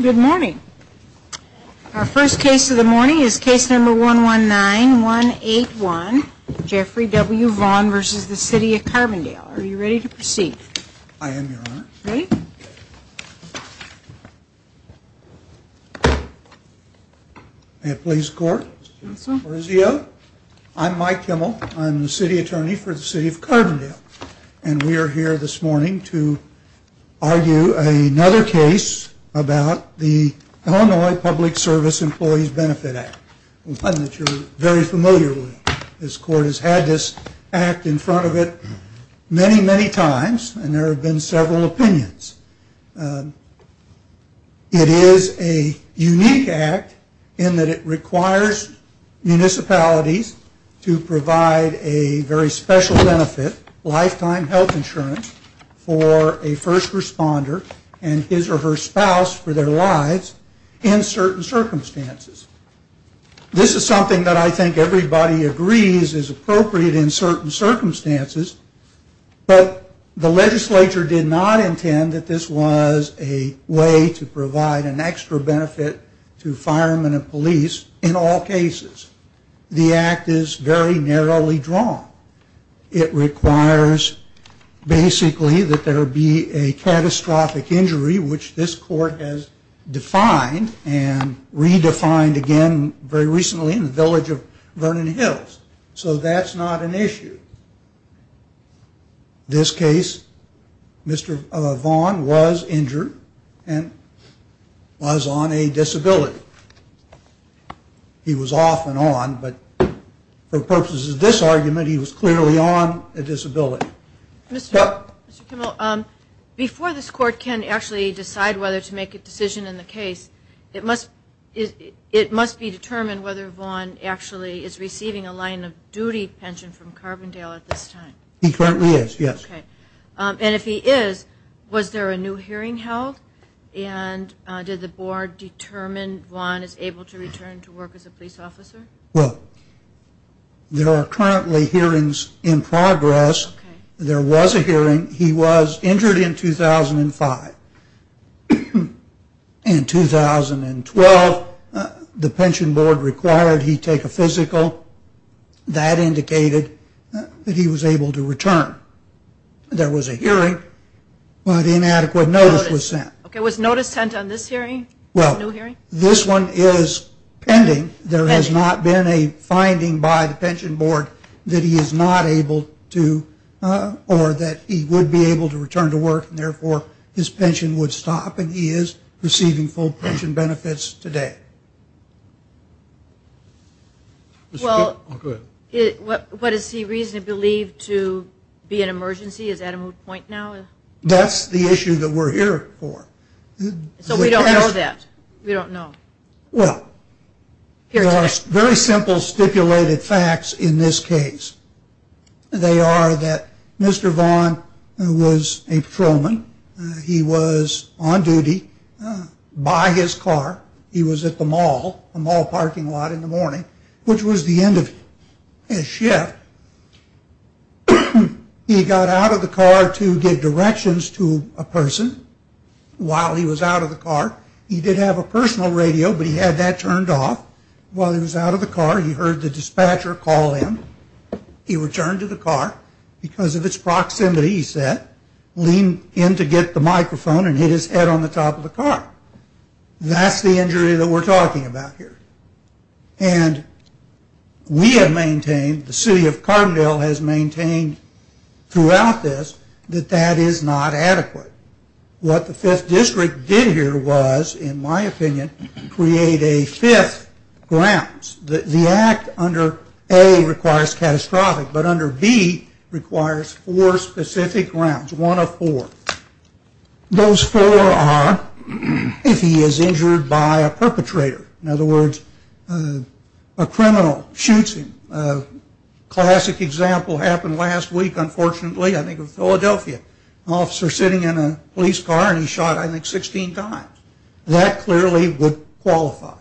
Good morning. Our first case of the morning is case number 119181, Jeffrey W. Vaughn v. The City of Carbondale. Are you ready to proceed? I am, Your Honor. Ready? May it please the Court? Yes, Your Honor. I am Mike Kimmel. I am the City Attorney for the City of Carbondale. And we are here this morning to argue another case about the Illinois Public Service Employees Benefit Act. One that you are very familiar with. This Court has had this act in front of it many, many times and there have been several opinions. It is a unique act in that it requires municipalities to provide a very special benefit, lifetime health insurance, for a first responder and his or her spouse for their lives in certain circumstances. This is something that I think everybody agrees is appropriate in certain circumstances, but the legislature did not intend that this was a way to provide an extra benefit to firemen and police in all cases. The act is very narrowly drawn. It requires, basically, that there be a catastrophic injury, which this Court has defined and redefined again very recently in the village of Vernon Hills. So that's not an issue. This case, Mr. Vaughn was injured and was on a disability. He was off and on, but for purposes of this argument, he was clearly on a disability. Mr. Kimmel, before this Court can actually decide whether to make a decision in the case, it must be determined whether Vaughn actually is receiving a line of duty pension from Carbondale at this time. He currently is, yes. Okay. And if he is, was there a new hearing held? And did the Board determine Vaughn is able to return to work as a police officer? Well, there are currently hearings in progress. There was a hearing. He was injured in 2005. In 2012, the Pension Board required he take a physical. That indicated that he was able to return. There was a hearing, but inadequate notice was sent. Okay. Was notice sent on this hearing, this new hearing? Well, this one is pending. There has not been a finding by the Pension Board that he is not able to, or that he would be able to return to work, and therefore his pension would stop, and he is receiving full pension benefits today. Okay. Well, what is he reasonably believed to be an emergency? Is that a moot point now? That's the issue that we're here for. So we don't know that. We don't know. Well, there are very simple stipulated facts in this case. They are that Mr. Vaughn was a patrolman. He was on duty by his car. He was at the mall, a mall parking lot in the morning, which was the end of his shift. He got out of the car to give directions to a person while he was out of the car. He did have a personal radio, but he had that turned off. While he was out of the car, he heard the dispatcher call him. He returned to the car. Because of its proximity, he said, leaned in to get the microphone and hit his head on the top of the car. That's the injury that we're talking about here. And we have maintained, the city of Carbondale has maintained throughout this, that that is not adequate. What the fifth district did here was, in my opinion, create a fifth grounds. The act under A requires catastrophic, but under B requires four specific grounds. One of four. Those four are if he is injured by a perpetrator. In other words, a criminal shoots him. A classic example happened last week, unfortunately, I think of Philadelphia. An officer sitting in a police car and he shot, I think, 16 times. That clearly would qualify.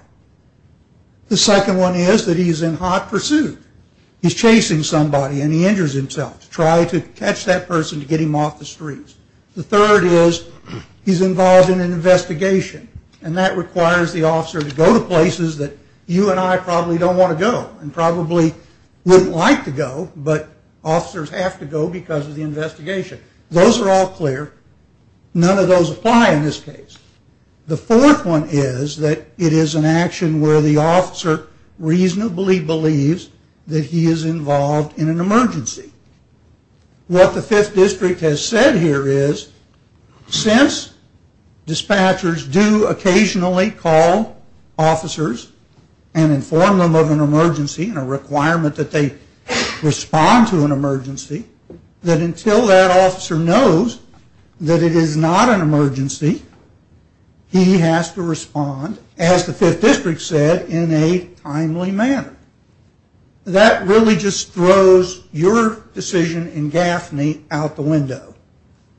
The second one is that he's in hot pursuit. He's chasing somebody and he injures himself. To try to catch that person to get him off the streets. The third is he's involved in an investigation. And that requires the officer to go to places that you and I probably don't want to go. And probably wouldn't like to go, but officers have to go because of the investigation. Those are all clear. None of those apply in this case. The fourth one is that it is an action where the officer reasonably believes that he is involved in an emergency. What the fifth district has said here is since dispatchers do occasionally call officers and inform them of an emergency and a requirement that they respond to an emergency, that until that officer knows that it is not an emergency, he has to respond, as the fifth district said, in a timely manner. That really just throws your decision in Gaffney out the window.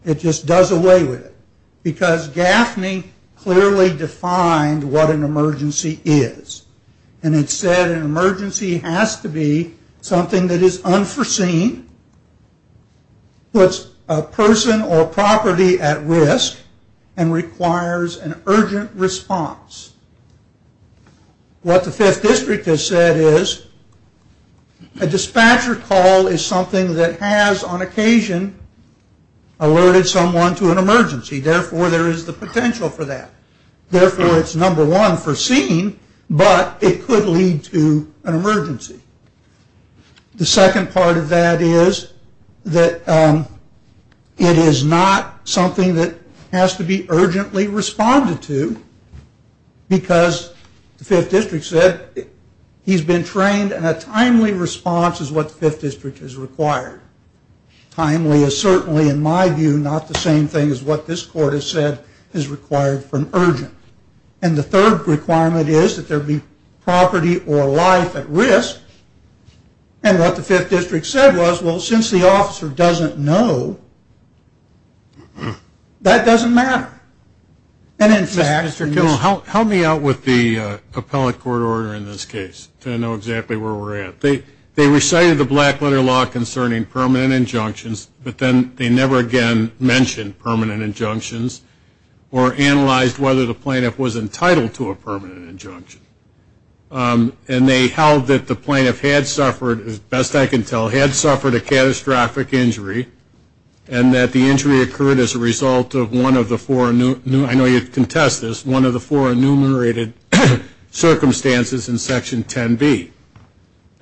It just does away with it. Because Gaffney clearly defined what an emergency is. And it said an emergency has to be something that is unforeseen, puts a person or property at risk, and requires an urgent response. What the fifth district has said is a dispatcher call is something that has, on occasion, alerted someone to an emergency. Therefore, there is the potential for that. Therefore, it's number one foreseen, but it could lead to an emergency. The second part of that is that it is not something that has to be urgently responded to. Because the fifth district said he's been trained and a timely response is what the fifth district has required. Timely is certainly, in my view, not the same thing as what this court has said is required from urgent. And the third requirement is that there be property or life at risk. And what the fifth district said was, well, since the officer doesn't know, that doesn't matter. And, in fact, Mr. Kiltsch. Help me out with the appellate court order in this case to know exactly where we're at. They recited the black letter law concerning permanent injunctions, but then they never again mentioned permanent injunctions or analyzed whether the plaintiff was entitled to a permanent injunction. And they held that the plaintiff had suffered, as best I can tell, had suffered a catastrophic injury and that the injury occurred as a result of one of the four, I know you can test this, one of the four enumerated circumstances in Section 10B.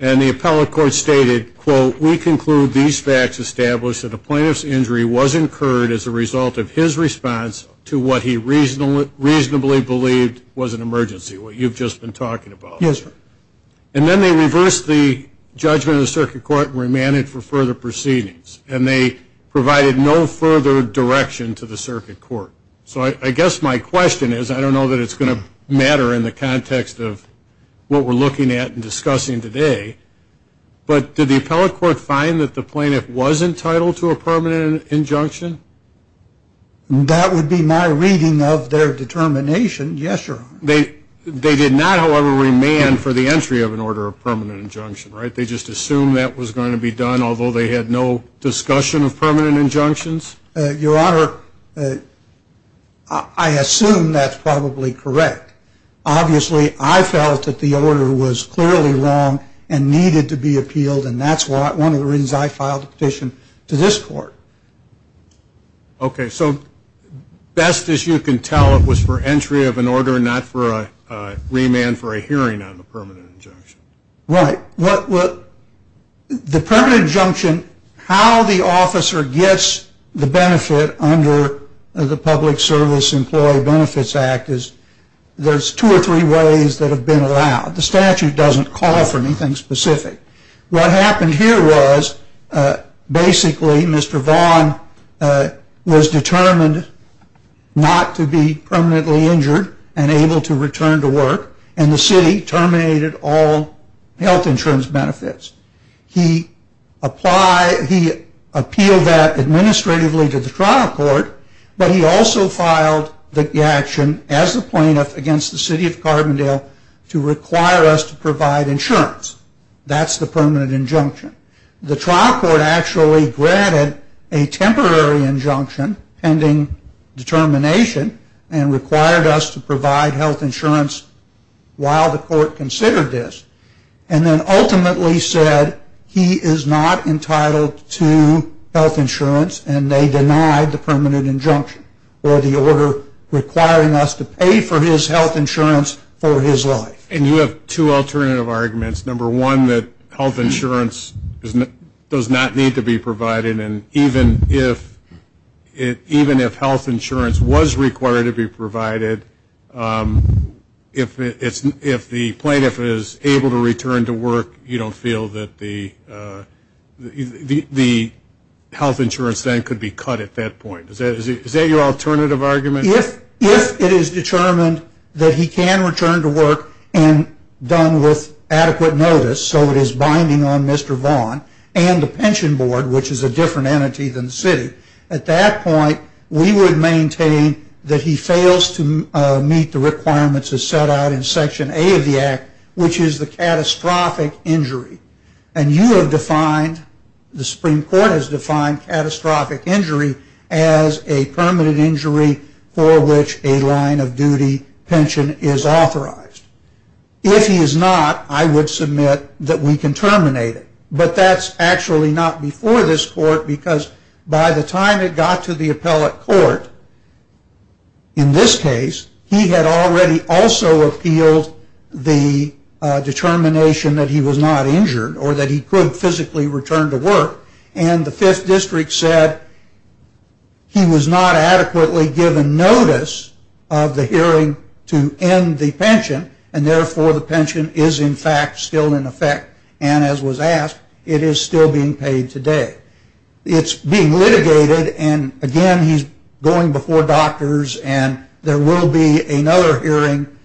And the appellate court stated, quote, we conclude these facts establish that the plaintiff's injury was incurred as a result of his response to what he reasonably believed was an emergency, what you've just been talking about. Yes, sir. And then they reversed the judgment of the circuit court and remanded for further proceedings. And they provided no further direction to the circuit court. So I guess my question is, I don't know that it's going to matter in the context of what we're looking at and discussing today, but did the appellate court find that the plaintiff was entitled to a permanent injunction? That would be my reading of their determination, yes, your honor. They did not, however, remand for the entry of an order of permanent injunction, right? They just assumed that was going to be done, although they had no discussion of permanent injunctions? Your honor, I assume that's probably correct. Obviously, I felt that the order was clearly wrong and needed to be appealed, and that's one of the reasons I filed a petition to this court. Okay, so best as you can tell, it was for entry of an order, not for a remand for a hearing on the permanent injunction. Right. The permanent injunction, how the officer gets the benefit under the Public Service Employee Benefits Act is, there's two or three ways that have been allowed. The statute doesn't call for anything specific. What happened here was, basically, Mr. Vaughn was determined not to be permanently injured and able to return to work, and the city terminated all health insurance benefits. He appealed that administratively to the trial court, but he also filed the action as the plaintiff against the city of Carbondale to require us to provide insurance. That's the permanent injunction. The trial court actually granted a temporary injunction pending determination and required us to provide health insurance while the court considered this, and then ultimately said he is not entitled to health insurance, and they denied the permanent injunction or the order requiring us to pay for his health insurance for his life. And you have two alternative arguments. Number one, that health insurance does not need to be provided, and even if health insurance was required to be provided, if the plaintiff is able to return to work, you don't feel that the health insurance then could be cut at that point. Is that your alternative argument? If it is determined that he can return to work and done with adequate notice, so it is binding on Mr. Vaughn and the pension board, which is a different entity than the city, at that point we would maintain that he fails to meet the requirements as set out in Section A of the Act, which is the catastrophic injury. And you have defined, the Supreme Court has defined, catastrophic injury as a permanent injury for which a line of duty pension is authorized. If he is not, I would submit that we can terminate it. But that's actually not before this court, because by the time it got to the appellate court, in this case, he had already also appealed the determination that he was not injured or that he could physically return to work. And the Fifth District said he was not adequately given notice of the hearing to end the pension, and therefore the pension is, in fact, still in effect. And as was asked, it is still being paid today. It's being litigated, and again, he's going before doctors, and there will be another hearing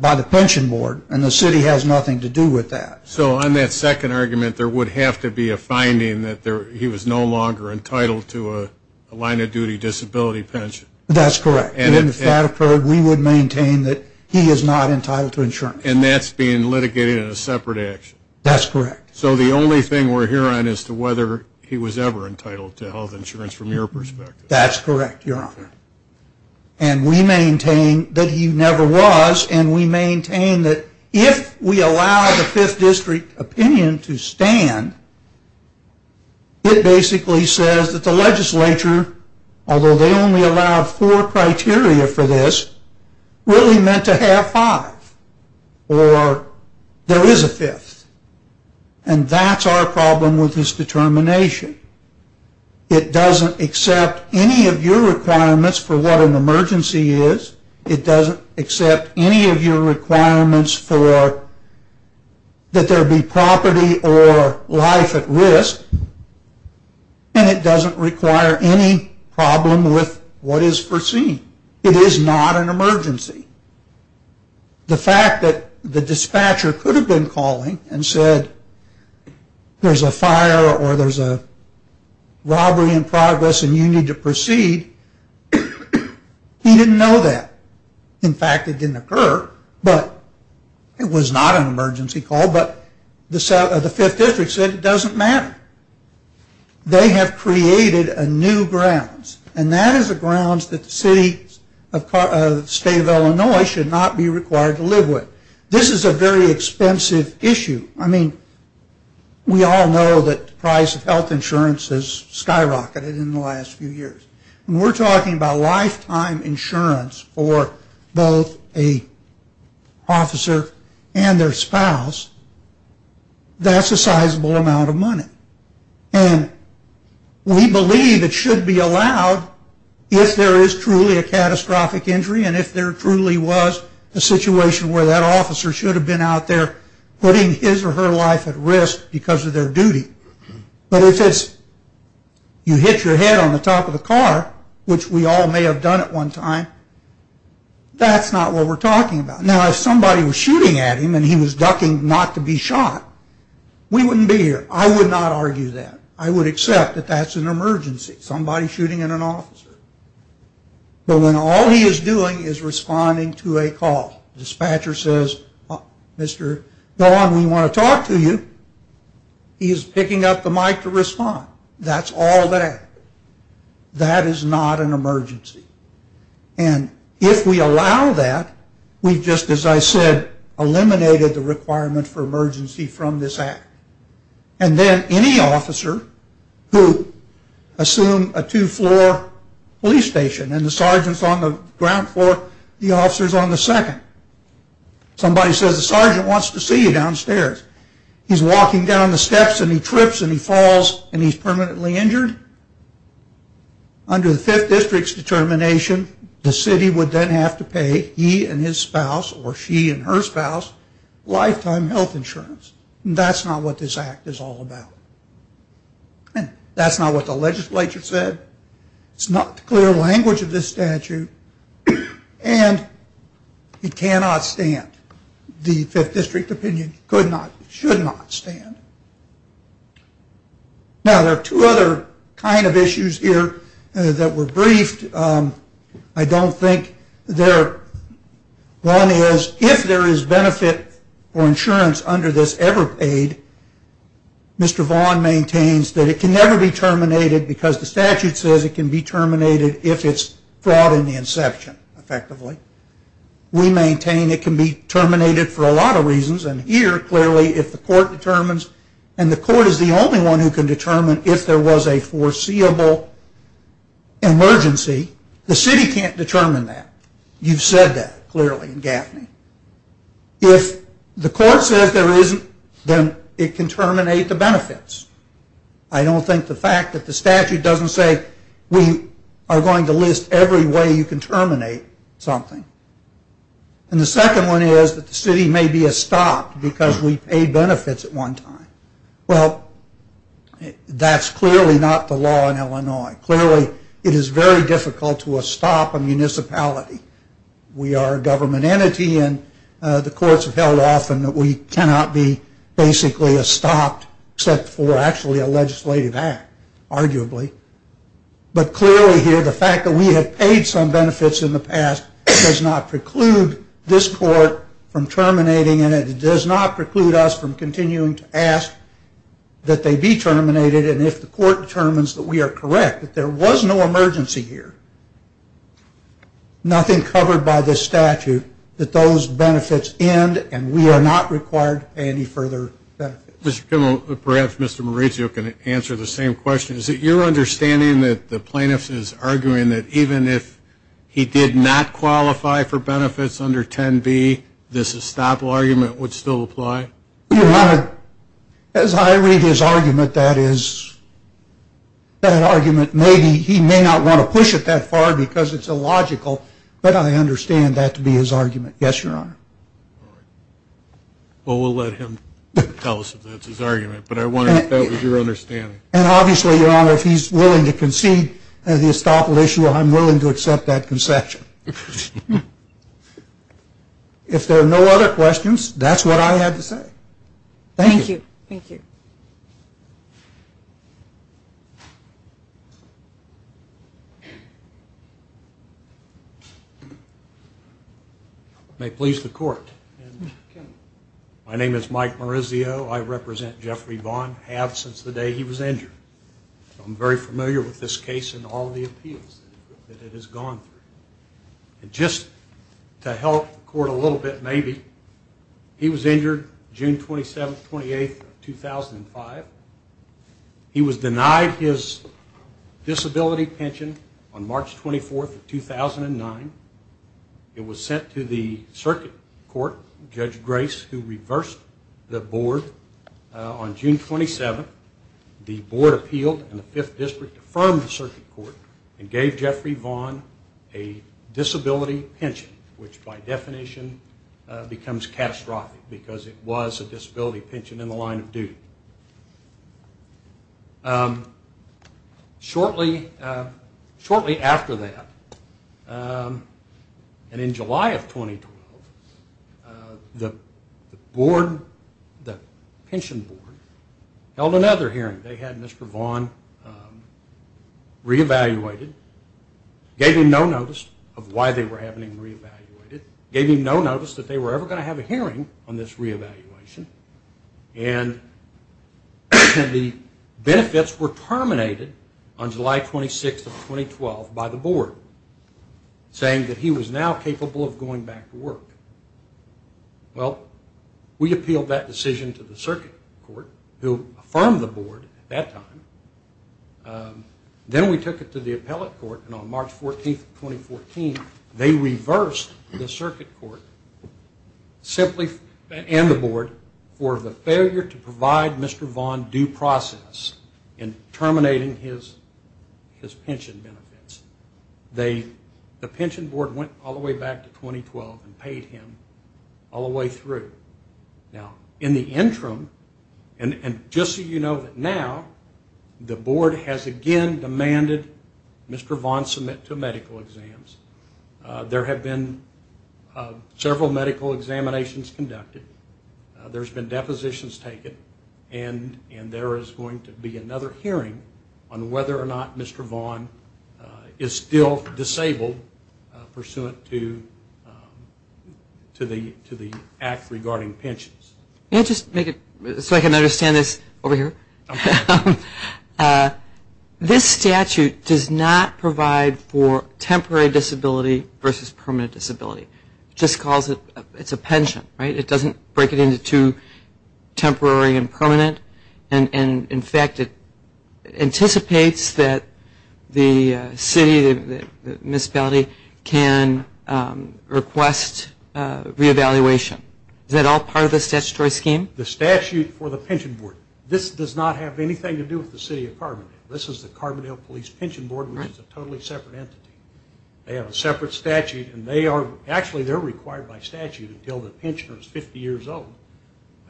by the pension board, and the city has nothing to do with that. So on that second argument, there would have to be a finding that he was no longer entitled to a line of duty disability pension. That's correct. We would maintain that he is not entitled to insurance. And that's being litigated in a separate action. That's correct. So the only thing we're hearing is to whether he was ever entitled to health insurance from your perspective. That's correct, Your Honor. And we maintain that he never was, and we maintain that if we allow the Fifth District opinion to stand, it basically says that the legislature, although they only allowed four criteria for this, really meant to have five, or there is a fifth. And that's our problem with this determination. It doesn't accept any of your requirements for what an emergency is. It doesn't accept any of your requirements for that there be property or life at risk, and it doesn't require any problem with what is foreseen. It is not an emergency. The fact that the dispatcher could have been calling and said there's a fire or there's a robbery in progress and you need to proceed, he didn't know that. In fact, it didn't occur, but it was not an emergency call, but the Fifth District said it doesn't matter. They have created a new grounds, and that is a grounds that the State of Illinois should not be required to live with. This is a very expensive issue. I mean, we all know that the price of health insurance has skyrocketed in the last few years. When we're talking about lifetime insurance for both an officer and their spouse, that's a sizable amount of money. And we believe it should be allowed if there is truly a catastrophic injury and if there truly was a situation where that officer should have been out there putting his or her life at risk because of their duty. But if you hit your head on the top of the car, which we all may have done at one time, that's not what we're talking about. Now, if somebody was shooting at him and he was ducking not to be shot, we wouldn't be here. I would not argue that. I would accept that that's an emergency, somebody shooting at an officer. But when all he is doing is responding to a call, dispatcher says, Mr. Don, we want to talk to you. He is picking up the mic to respond. That's all that happens. That is not an emergency. And if we allow that, we've just, as I said, eliminated the requirement for emergency from this act. And then any officer who assumed a two-floor police station and the sergeant's on the ground floor, the officer's on the second. Somebody says the sergeant wants to see you downstairs. He's walking down the steps and he trips and he falls and he's permanently injured. Under the Fifth District's determination, the city would then have to pay he and his spouse or she and her spouse lifetime health insurance. And that's not what this act is all about. And that's not what the legislature said. It's not the clear language of this statute. And it cannot stand. The Fifth District opinion could not, should not stand. Now, there are two other kind of issues here that were briefed. I don't think there, one is, if there is benefit or insurance under this ever paid, Mr. Vaughn maintains that it can never be terminated because the statute says it can be terminated if it's fraud in the inception, effectively. We maintain it can be terminated for a lot of reasons. And here, clearly, if the court determines, and the court is the only one who can determine if there was a foreseeable emergency, the city can't determine that. You've said that clearly in Gaffney. If the court says there isn't, then it can terminate the benefits. I don't think the fact that the statute doesn't say, we are going to list every way you can terminate something. And the second one is that the city may be a stop because we paid benefits at one time. Well, that's clearly not the law in Illinois. Clearly, it is very difficult to a stop a municipality. We are a government entity and the courts have held often that we cannot be basically a stop except for actually a legislative act, arguably. But clearly here, the fact that we have paid some benefits in the past does not preclude this court from terminating and it does not preclude us from continuing to ask that they be terminated and if the court determines that we are correct, that there was no emergency here. Nothing covered by this statute that those benefits end and we are not required to pay any further benefits. Mr. Kimmel, perhaps Mr. Maurizio can answer the same question. Is it your understanding that the plaintiff is arguing that even if he did not qualify for benefits under 10B, this estoppel argument would still apply? Your Honor, as I read his argument, that is, that argument may be, he may not want to push it that far because it is illogical, but I understand that to be his argument. Yes, Your Honor. Well, we will let him tell us if that is his argument, but I wondered if that was your understanding. And obviously, Your Honor, if he is willing to concede the estoppel issue, I am willing to accept that concession. If there are no other questions, that is what I had to say. Thank you. May it please the Court. My name is Mike Maurizio. I represent Jeffrey Vaughn. I have since the day he was injured. I am very familiar with this case and all the appeals that it has gone through. Just to help the Court a little bit maybe, he was injured June 27th, 28th, 2005. He was denied his disability pension on March 24th, 2009. It was sent to the Circuit Court. Judge Grace, who reversed the Board on June 27th, the Board appealed and the Fifth District affirmed the Circuit Court and gave Jeffrey Vaughn a disability pension, which by definition becomes catastrophic because it was a disability pension in the line of duty. Shortly after that, and in July of 2012, the Board, the Pension Board, held another hearing. They had Mr. Vaughn re-evaluated, gave him no notice of why they were having him re-evaluated, gave him no notice that they were ever going to have a hearing on this re-evaluation, and the benefits were terminated on July 26th of 2012 by the Board, saying that he was now capable of going back to work. Well, we appealed that decision to the Circuit Court, who affirmed the Board at that time. Then we took it to the Appellate Court, and on March 14th, 2014, they reversed the Circuit Court and the Board for the failure to provide Mr. Vaughn due process in terminating his pension benefits. The Pension Board went all the way back to 2012 and paid him all the way through. Now, in the interim, and just so you know that now, the Board has again demanded Mr. Vaughn submit to medical exams. There have been several medical examinations conducted. There's been depositions taken, and there is going to be another hearing on whether or not Mr. Vaughn is still disabled pursuant to the act regarding pensions. Can I just make it so I can understand this over here? Okay. This statute does not provide for temporary disability versus permanent disability. It just calls it a pension, right? It doesn't break it into two, temporary and permanent. In fact, it anticipates that the city, the municipality, can request re-evaluation. Is that all part of the statutory scheme? The statute for the Pension Board, this does not have anything to do with the City of Carbondale. This is the Carbondale Police Pension Board, which is a totally separate entity. They have a separate statute, and actually they're required by statute until the pensioner is 50 years old,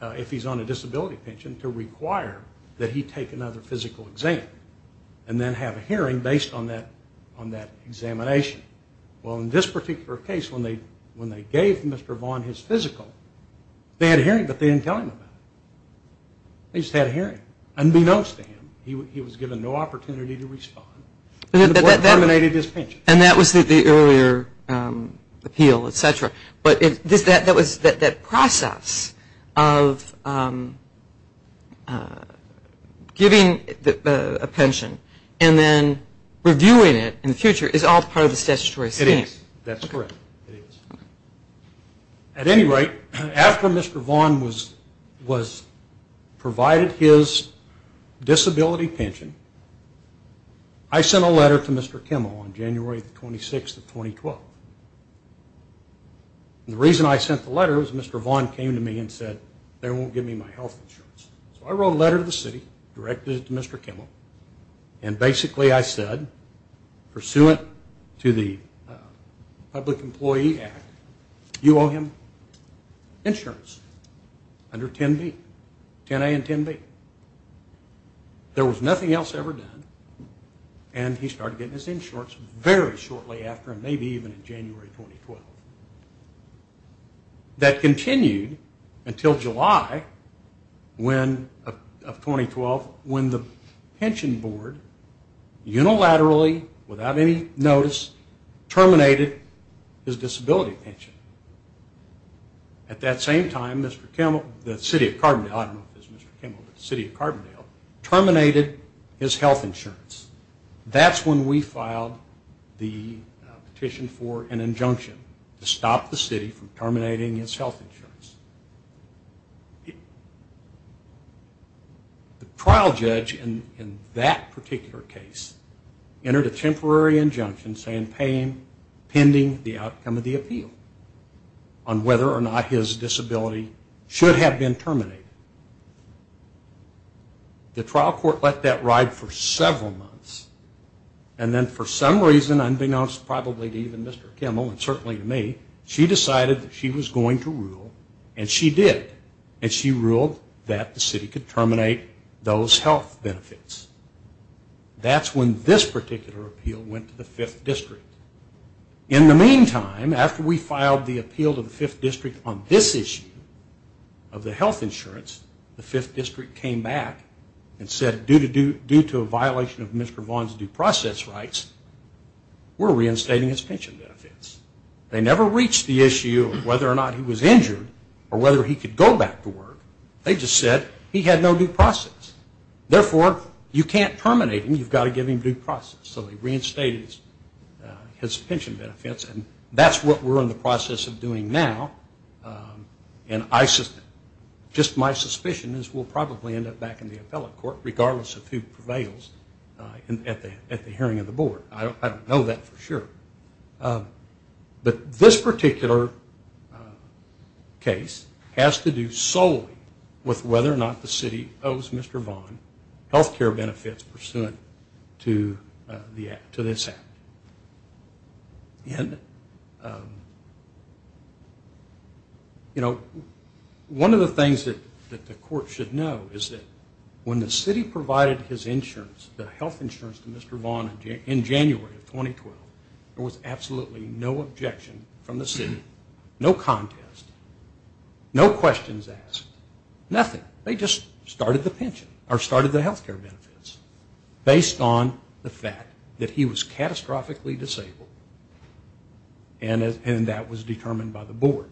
if he's on a disability pension, to require that he take another physical exam and then have a hearing based on that examination. Well, in this particular case, when they gave Mr. Vaughn his physical, they had a hearing, but they didn't tell him about it. They just had a hearing, unbeknownst to him. He was given no opportunity to respond, and the board terminated his pension. And that was the earlier appeal, et cetera. But that process of giving a pension and then reviewing it in the future is all part of the statutory scheme. It is. That's correct. It is. At any rate, after Mr. Vaughn was provided his disability pension, I sent a letter to Mr. Kimmel on January 26th of 2012. And the reason I sent the letter was Mr. Vaughn came to me and said, they won't give me my health insurance. So I wrote a letter to the city, directed it to Mr. Kimmel, and basically I said, pursuant to the Public Employee Act, you owe him insurance under 10B, 10A and 10B. There was nothing else ever done, and he started getting his insurance very shortly after, maybe even in January 2012. That continued until July of 2012, when the pension board unilaterally, without any notice, terminated his disability pension. At that same time, Mr. Kimmel, the city of Carbondale, I don't know if it was Mr. Kimmel, but the city of Carbondale, terminated his health insurance. That's when we filed the petition for an injunction to stop the city from terminating his health insurance. The trial judge in that particular case entered a temporary injunction saying pending the outcome of the appeal on whether or not his disability should have been terminated. The trial court let that ride for several months, and then for some reason, unbeknownst probably to even Mr. Kimmel, and certainly to me, she decided that she was going to rule, and she did, and she ruled that the city could terminate those health benefits. That's when this particular appeal went to the 5th District. In the meantime, after we filed the appeal to the 5th District on this issue of the health insurance, the 5th District came back and said, due to a violation of Mr. Vaughn's due process rights, we're reinstating his pension benefits. They never reached the issue of whether or not he was injured or whether he could go back to work. They just said he had no due process. Therefore, you can't terminate him. You've got to give him due process. So they reinstated his pension benefits, and that's what we're in the process of doing now. Just my suspicion is we'll probably end up back in the appellate court, regardless of who prevails at the hearing of the board. I don't know that for sure. But this particular case has to do solely with whether or not the city owes Mr. Vaughn health care benefits pursuant to this act. One of the things that the court should know is that when the city provided his insurance, the health insurance, to Mr. Vaughn in January of 2012, there was absolutely no objection from the city. No contest. No questions asked. Nothing. They just started the pension, or started the health care benefits, based on the fact that he was catastrophically disabled, and that was determined by the board,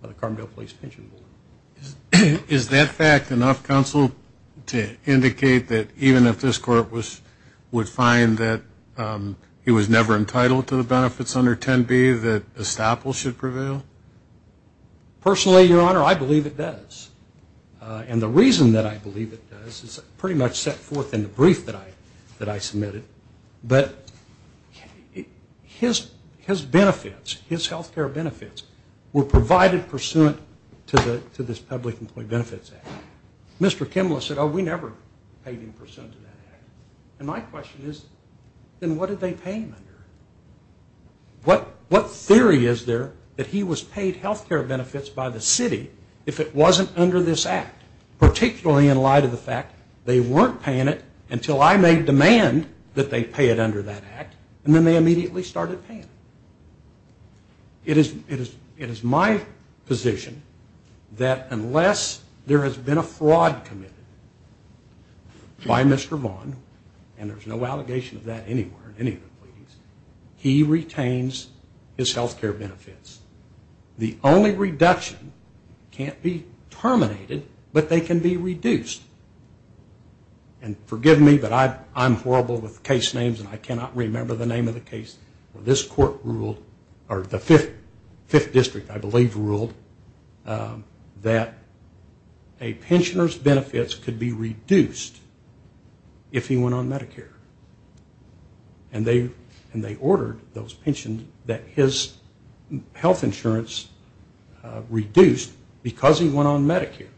by the Carbondale Police Pension Board. Is that fact enough, Counsel, to indicate that even if this court would find that he was never entitled to the benefits under 10B, that estoppel should prevail? Personally, Your Honor, I believe it does. And the reason that I believe it does is pretty much set forth in the brief that I submitted. But his benefits, his health care benefits, were provided pursuant to this Public Employee Benefits Act. Mr. Kimball said, oh, we never paid him pursuant to that act. And my question is, then what did they pay him under? What theory is there that he was paid health care benefits by the city if it wasn't under this act, particularly in light of the fact they weren't paying it until I made demand that they pay it under that act, and then they immediately started paying it. It is my position that unless there has been a fraud committed by Mr. Vaughn, and there's no allegation of that anywhere in any of the pleadings, he retains his health care benefits. The only reduction can't be terminated, but they can be reduced. And forgive me, but I'm horrible with case names, and I cannot remember the name of the case where this court ruled, or the Fifth District, I believe, ruled, that a pensioner's benefits could be reduced if he went on Medicare. And they ordered those pensions that his health insurance reduced because he went on Medicare,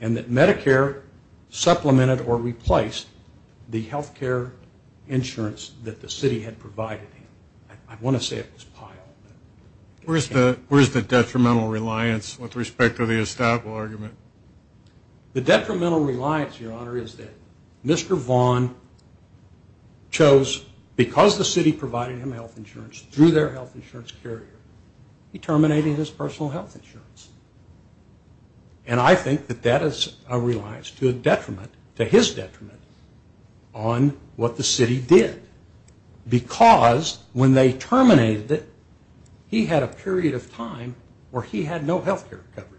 and that Medicare supplemented or replaced the health care insurance that the city had provided him. I want to say it was piled. Where's the detrimental reliance with respect to the estoppel argument? The detrimental reliance, Your Honor, is that Mr. Vaughn chose, because the city provided him health insurance through their health insurance carrier, he terminated his personal health insurance. And I think that that is a reliance to a detriment, to his detriment, on what the city did. Because when they terminated it, he had a period of time where he had no health care coverage.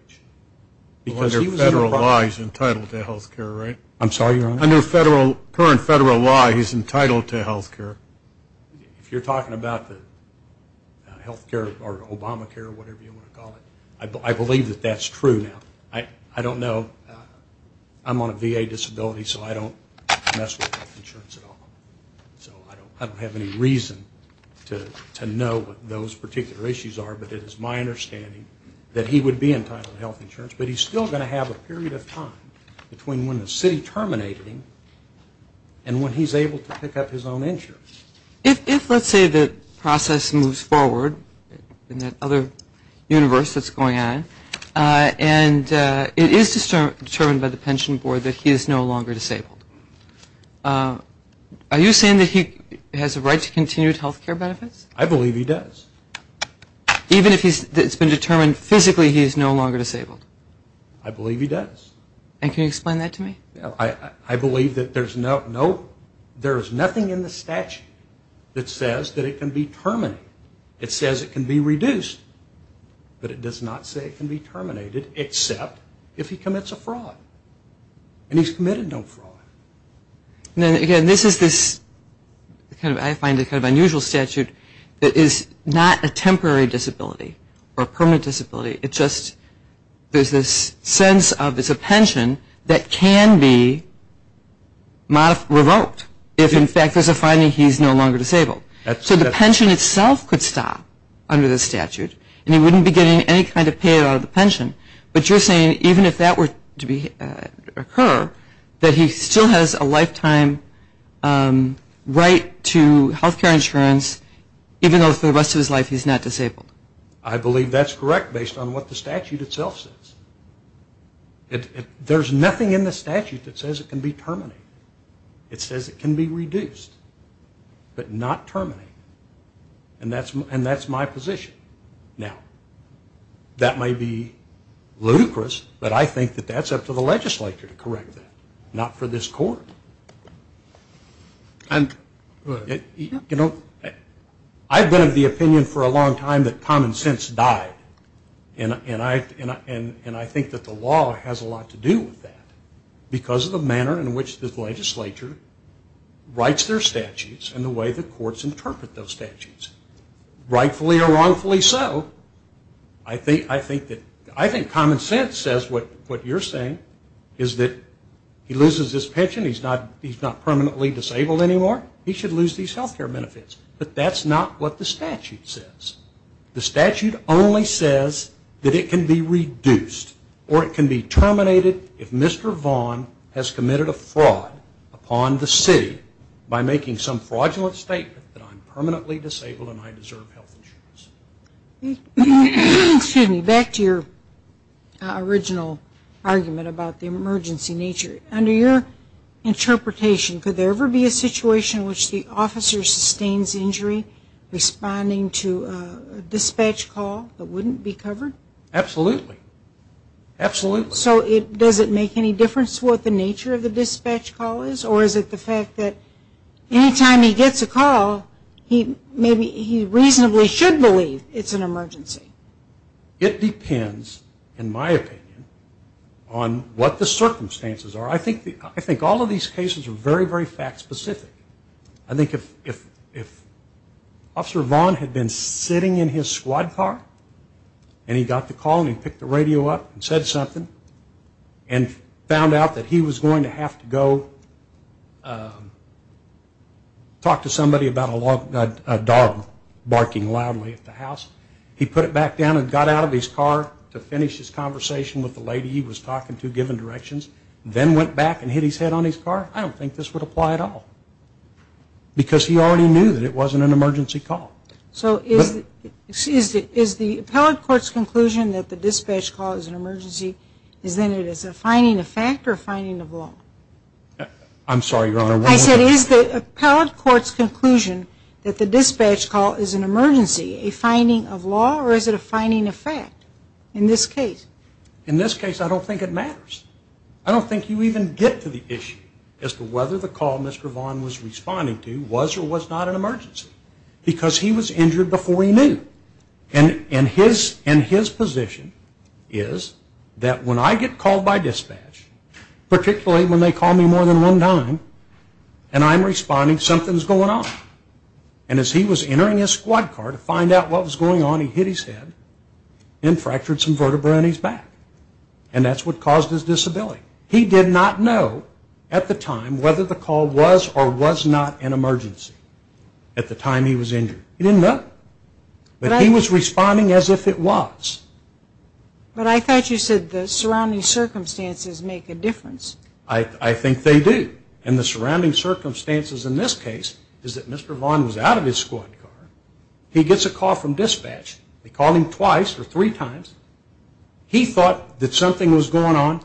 Under federal law, he's entitled to health care, right? I'm sorry, Your Honor? Under current federal law, he's entitled to health care. If you're talking about the health care or Obamacare, whatever you want to call it, I believe that that's true now. I don't know. I'm on a VA disability, so I don't mess with health insurance at all. So I don't have any reason to know what those particular issues are, but it is my understanding that he would be entitled to health insurance. But he's still going to have a period of time between when the city terminated him and when he's able to pick up his own insurance. If, let's say, the process moves forward in that other universe that's going on And it is determined by the pension board that he is no longer disabled. Are you saying that he has a right to continued health care benefits? I believe he does. Even if it's been determined physically he is no longer disabled? I believe he does. And can you explain that to me? I believe that there is nothing in the statute that says that it can be terminated. It says it can be reduced. But it does not say it can be terminated except if he commits a fraud. And he's committed no fraud. And again, this is this, I find it kind of unusual statute, that is not a temporary disability or permanent disability. It's just there's this sense of it's a pension that can be revoked if in fact there's a finding he's no longer disabled. So the pension itself could stop under the statute and he wouldn't be getting any kind of pay out of the pension. But you're saying even if that were to occur, that he still has a lifetime right to health care insurance even though for the rest of his life he's not disabled? I believe that's correct based on what the statute itself says. There's nothing in the statute that says it can be terminated. It says it can be reduced. But not terminated. And that's my position. Now, that might be ludicrous, but I think that that's up to the legislature to correct that, not for this court. You know, I've been of the opinion for a long time that common sense died. And I think that the law has a lot to do with that because of the manner in which this legislature writes their statutes and the way the courts interpret those statutes. Rightfully or wrongfully so, I think common sense says what you're saying is that he loses his pension, he's not permanently disabled anymore, he should lose these health care benefits. But that's not what the statute says. The statute only says that it can be reduced or it can be terminated if Mr. Vaughn has committed a fraud upon the city by making some fraudulent statement that I'm permanently disabled and I deserve health insurance. Excuse me. Back to your original argument about the emergency nature. Under your interpretation, could there ever be a situation in which the officer sustains injury responding to a dispatch call that wouldn't be covered? Absolutely. Absolutely. So does it make any difference what the nature of the dispatch call is or is it the fact that any time he gets a call, he reasonably should believe it's an emergency? It depends, in my opinion, on what the circumstances are. I think all of these cases are very, very fact specific. I think if Officer Vaughn had been sitting in his squad car and he got the call and he picked the radio up and said something and found out that he was going to have to go talk to somebody about a dog barking loudly at the house, he put it back down and got out of his car to finish his conversation with the lady he was talking to, giving directions, then went back and hit his head on his car, I don't think this would apply at all because he already knew that it wasn't an emergency call. So is the appellate court's conclusion that the dispatch call is an emergency, is then it is a finding of fact or a finding of law? I'm sorry, Your Honor. I said is the appellate court's conclusion that the dispatch call is an emergency, a finding of law, or is it a finding of fact in this case? In this case, I don't think it matters. I don't think you even get to the issue as to whether the call Mr. Vaughn was responding to was or was not an emergency because he was injured before he knew. And his position is that when I get called by dispatch, particularly when they call me more than one time and I'm responding, something's going on. And as he was entering his squad car to find out what was going on, he hit his head and fractured some vertebrae in his back and that's what caused his disability. He did not know at the time whether the call was or was not an emergency at the time he was injured. He didn't know. But he was responding as if it was. But I thought you said the surrounding circumstances make a difference. I think they do. And the surrounding circumstances in this case is that Mr. Vaughn was out of his squad car. He gets a call from dispatch. They called him twice or three times. He thought that something was going on,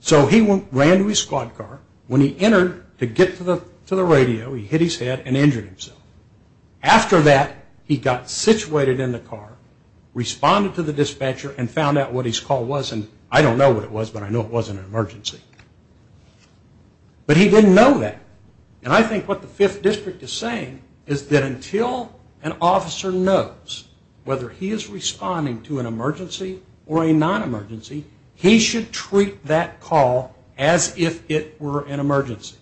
so he ran to his squad car. When he entered to get to the radio, he hit his head and injured himself. After that, he got situated in the car, responded to the dispatcher, and found out what his call was. And I don't know what it was, but I know it wasn't an emergency. But he didn't know that. And I think what the Fifth District is saying is that until an officer knows whether he is responding to an emergency or a non-emergency, he should treat that call as if it were an emergency.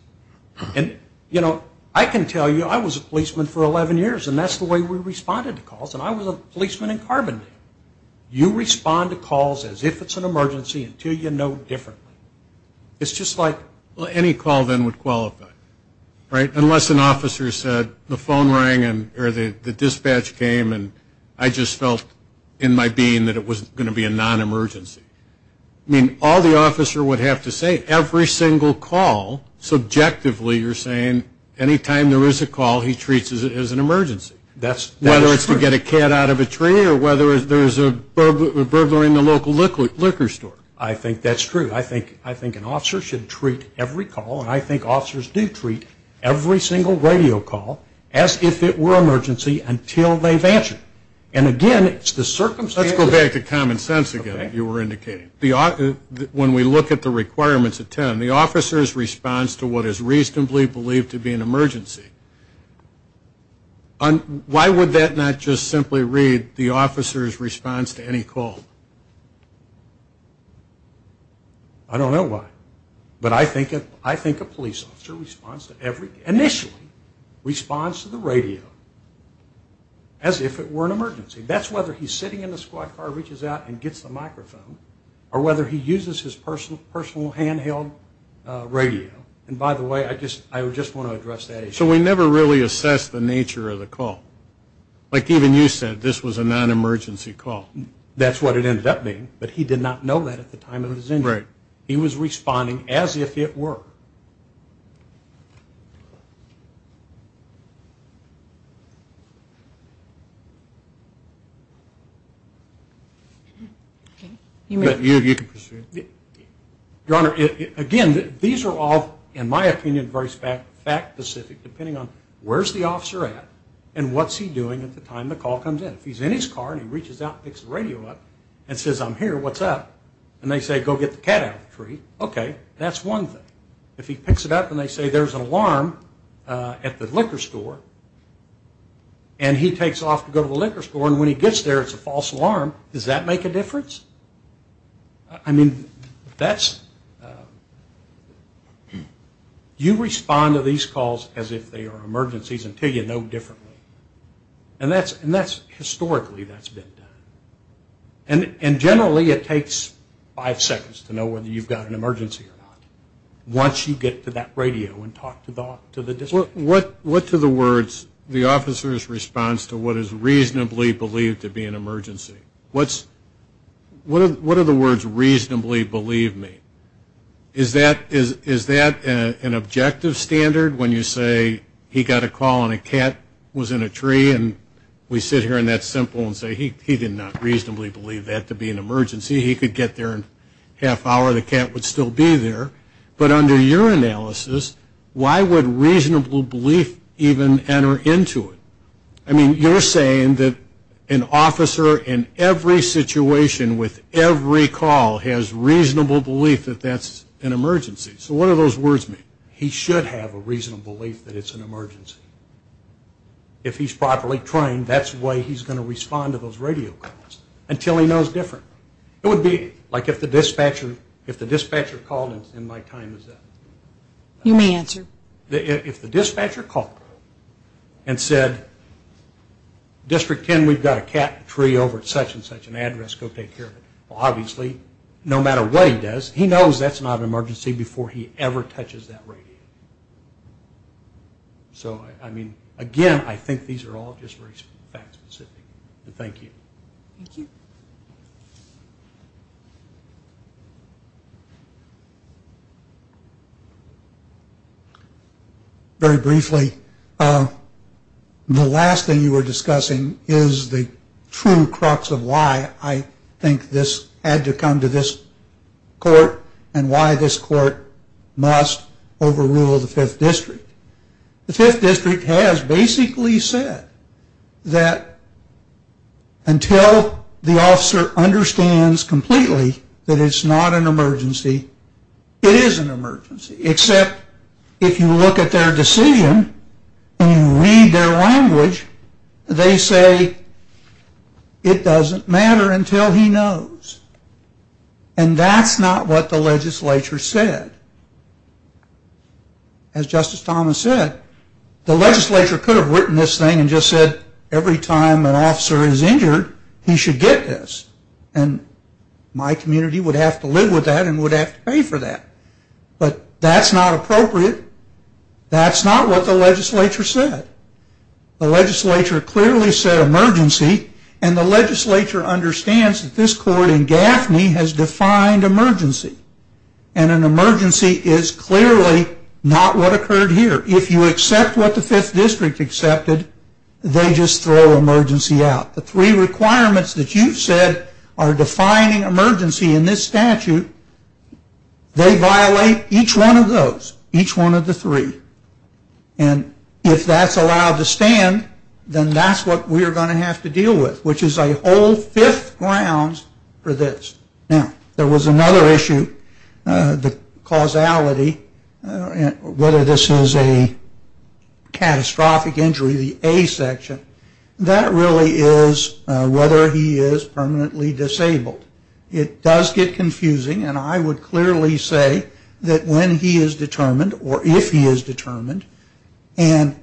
And, you know, I can tell you I was a policeman for 11 years, and that's the way we responded to calls, and I was a policeman in Carbondale. You respond to calls as if it's an emergency until you know differently. It's just like any call then would qualify, right, unless an officer said the phone rang or the dispatch came and I just felt in my being that it was going to be a non-emergency. I mean, all the officer would have to say every single call, subjectively you're saying, any time there is a call, he treats it as an emergency. Whether it's to get a cat out of a tree or whether there's a burglary in the local liquor store. I think that's true. I think an officer should treat every call, and I think officers do treat every single radio call as if it were an emergency until they've answered. And, again, it's the circumstances. Let's go back to common sense again that you were indicating. When we look at the requirements of TIN, the officer's response to what is reasonably believed to be an emergency, why would that not just simply read the officer's response to any call? I don't know why. But I think a police officer initially responds to the radio as if it were an emergency. That's whether he's sitting in the squad car, reaches out, and gets the microphone, or whether he uses his personal handheld radio. And, by the way, I just want to address that issue. So we never really assessed the nature of the call. Like even you said, this was a non-emergency call. That's what it ended up being, but he did not know that at the time of his injury. Right. He was responding as if it were. You can proceed. Your Honor, again, these are all, in my opinion, very fact-specific, depending on where's the officer at and what's he doing at the time the call comes in. If he's in his car and he reaches out and picks the radio up and says, I'm here, what's up? And they say, go get the cat out of the tree. Okay. That's one thing. If he picks it up and they say there's an alarm at the liquor store and he takes off to go to the liquor store and when he gets there it's a false alarm, does that make a difference? I mean, you respond to these calls as if they are emergencies until you know differently. And historically that's been done. And generally it takes five seconds to know whether you've got an emergency or not. Once you get to that radio and talk to the dispatcher. What to the words the officer's response to what is reasonably believed to be an emergency? What are the words reasonably believe me? Is that an objective standard when you say he got a call and a cat was in a tree and we sit here in that simple and say he did not reasonably believe that to be an emergency. He could get there in a half hour. The cat would still be there. But under your analysis, why would reasonable belief even enter into it? I mean, you're saying that an officer in every situation with every call has reasonable belief that that's an emergency. So what do those words mean? He should have a reasonable belief that it's an emergency. If he's properly trained, that's the way he's going to respond to those radio calls until he knows differently. It would be like if the dispatcher called in my time. You may answer. If the dispatcher called and said, District 10, we've got a cat in a tree over at such and such an address. Go take care of it. Well, obviously, no matter what he does, he knows that's not an emergency before he ever touches that radio. So, I mean, again, I think these are all just very fact specific. Thank you. Thank you. Very briefly, the last thing you were discussing is the true crux of why I think this had to come to this court and why this court must overrule the 5th District. The 5th District has basically said that until the officer understands completely that it's not an emergency, it is an emergency, except if you look at their decision and you read their language, they say it doesn't matter until he knows. And that's not what the legislature said. As Justice Thomas said, the legislature could have written this thing and just said, every time an officer is injured, he should get this. And my community would have to live with that and would have to pay for that. But that's not appropriate. That's not what the legislature said. The legislature clearly said emergency, and the legislature understands that this court in Gaffney has defined emergency. And an emergency is clearly not what occurred here. If you accept what the 5th District accepted, they just throw emergency out. The three requirements that you've said are defining emergency in this statute. They violate each one of those, each one of the three. And if that's allowed to stand, then that's what we're going to have to deal with, which is a whole fifth grounds for this. Now, there was another issue, the causality, whether this is a catastrophic injury, the A section, that really is whether he is permanently disabled. It does get confusing, and I would clearly say that when he is determined or if he is determined and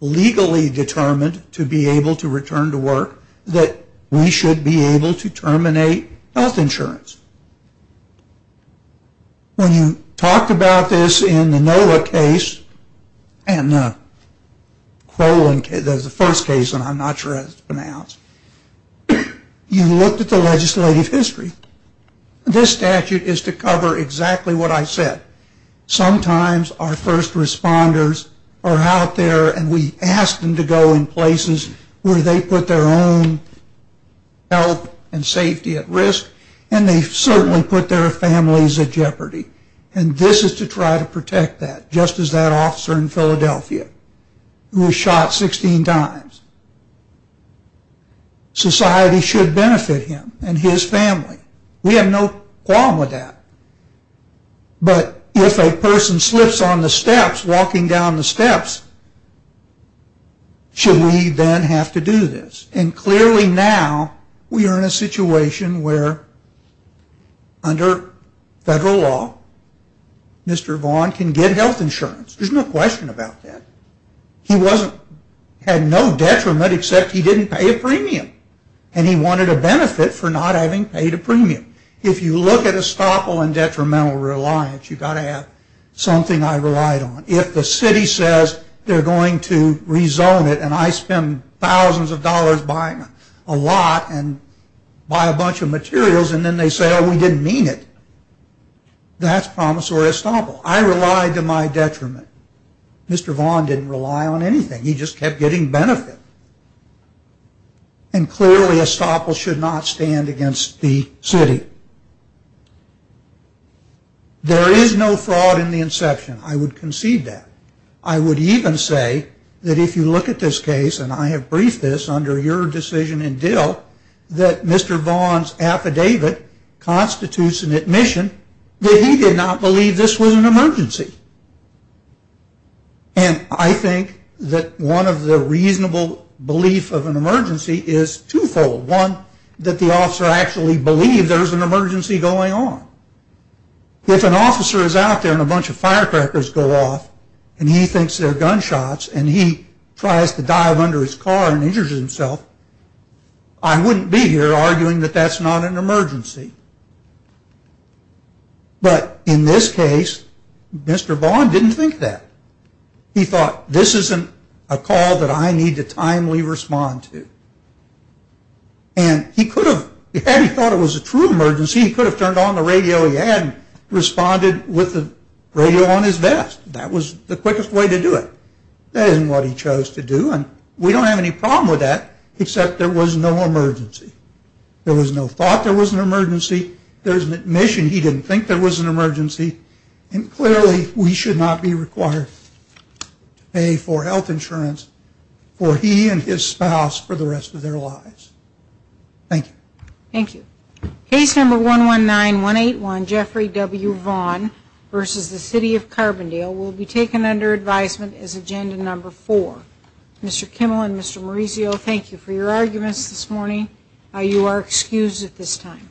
legally determined to be able to return to work, that we should be able to terminate health insurance. When you talked about this in the NOLA case and the Crowland case, that was the first case, and I'm not sure how it's pronounced, you looked at the legislative history. This statute is to cover exactly what I said. Sometimes our first responders are out there and we ask them to go in places where they put their own health and safety at risk, and they certainly put their families at jeopardy. And this is to try to protect that, just as that officer in Philadelphia who was shot 16 times. Society should benefit him and his family. We have no problem with that. But if a person slips on the steps, walking down the steps, should we then have to do this? And clearly now we are in a situation where under federal law, Mr. Vaughn can get health insurance. There's no question about that. He had no detriment except he didn't pay a premium, and he wanted a benefit for not having paid a premium. If you look at estoppel and detrimental reliance, you've got to have something I relied on. If the city says they're going to rezone it and I spend thousands of dollars buying a lot and buy a bunch of materials and then they say, oh, we didn't mean it, that's promissory estoppel. I relied to my detriment. Mr. Vaughn didn't rely on anything. He just kept getting benefit. And clearly estoppel should not stand against the city. There is no fraud in the inception. I would concede that. I would even say that if you look at this case, and I have briefed this under your decision in Dill, that Mr. Vaughn's affidavit constitutes an admission that he did not believe this was an emergency. And I think that one of the reasonable beliefs of an emergency is twofold. One, that the officer actually believed there was an emergency going on. If an officer is out there and a bunch of firecrackers go off and he thinks they're gunshots and he tries to dive under his car and injures himself, I wouldn't be here arguing that that's not an emergency. But in this case, Mr. Vaughn didn't think that. He thought, this isn't a call that I need to timely respond to. And he could have, had he thought it was a true emergency, he could have turned on the radio he had and responded with the radio on his vest. That was the quickest way to do it. That isn't what he chose to do, and we don't have any problem with that, except there was no emergency. There was no thought there was an emergency. There's an admission he didn't think there was an emergency. And clearly, we should not be required to pay for health insurance for he and his spouse for the rest of their lives. Thank you. Thank you. Case number 119181, Jeffrey W. Vaughn v. The City of Carbondale, will be taken under advisement as agenda number four. Mr. Kimmel and Mr. Maurizio, thank you for your arguments this morning. You are excused at this time.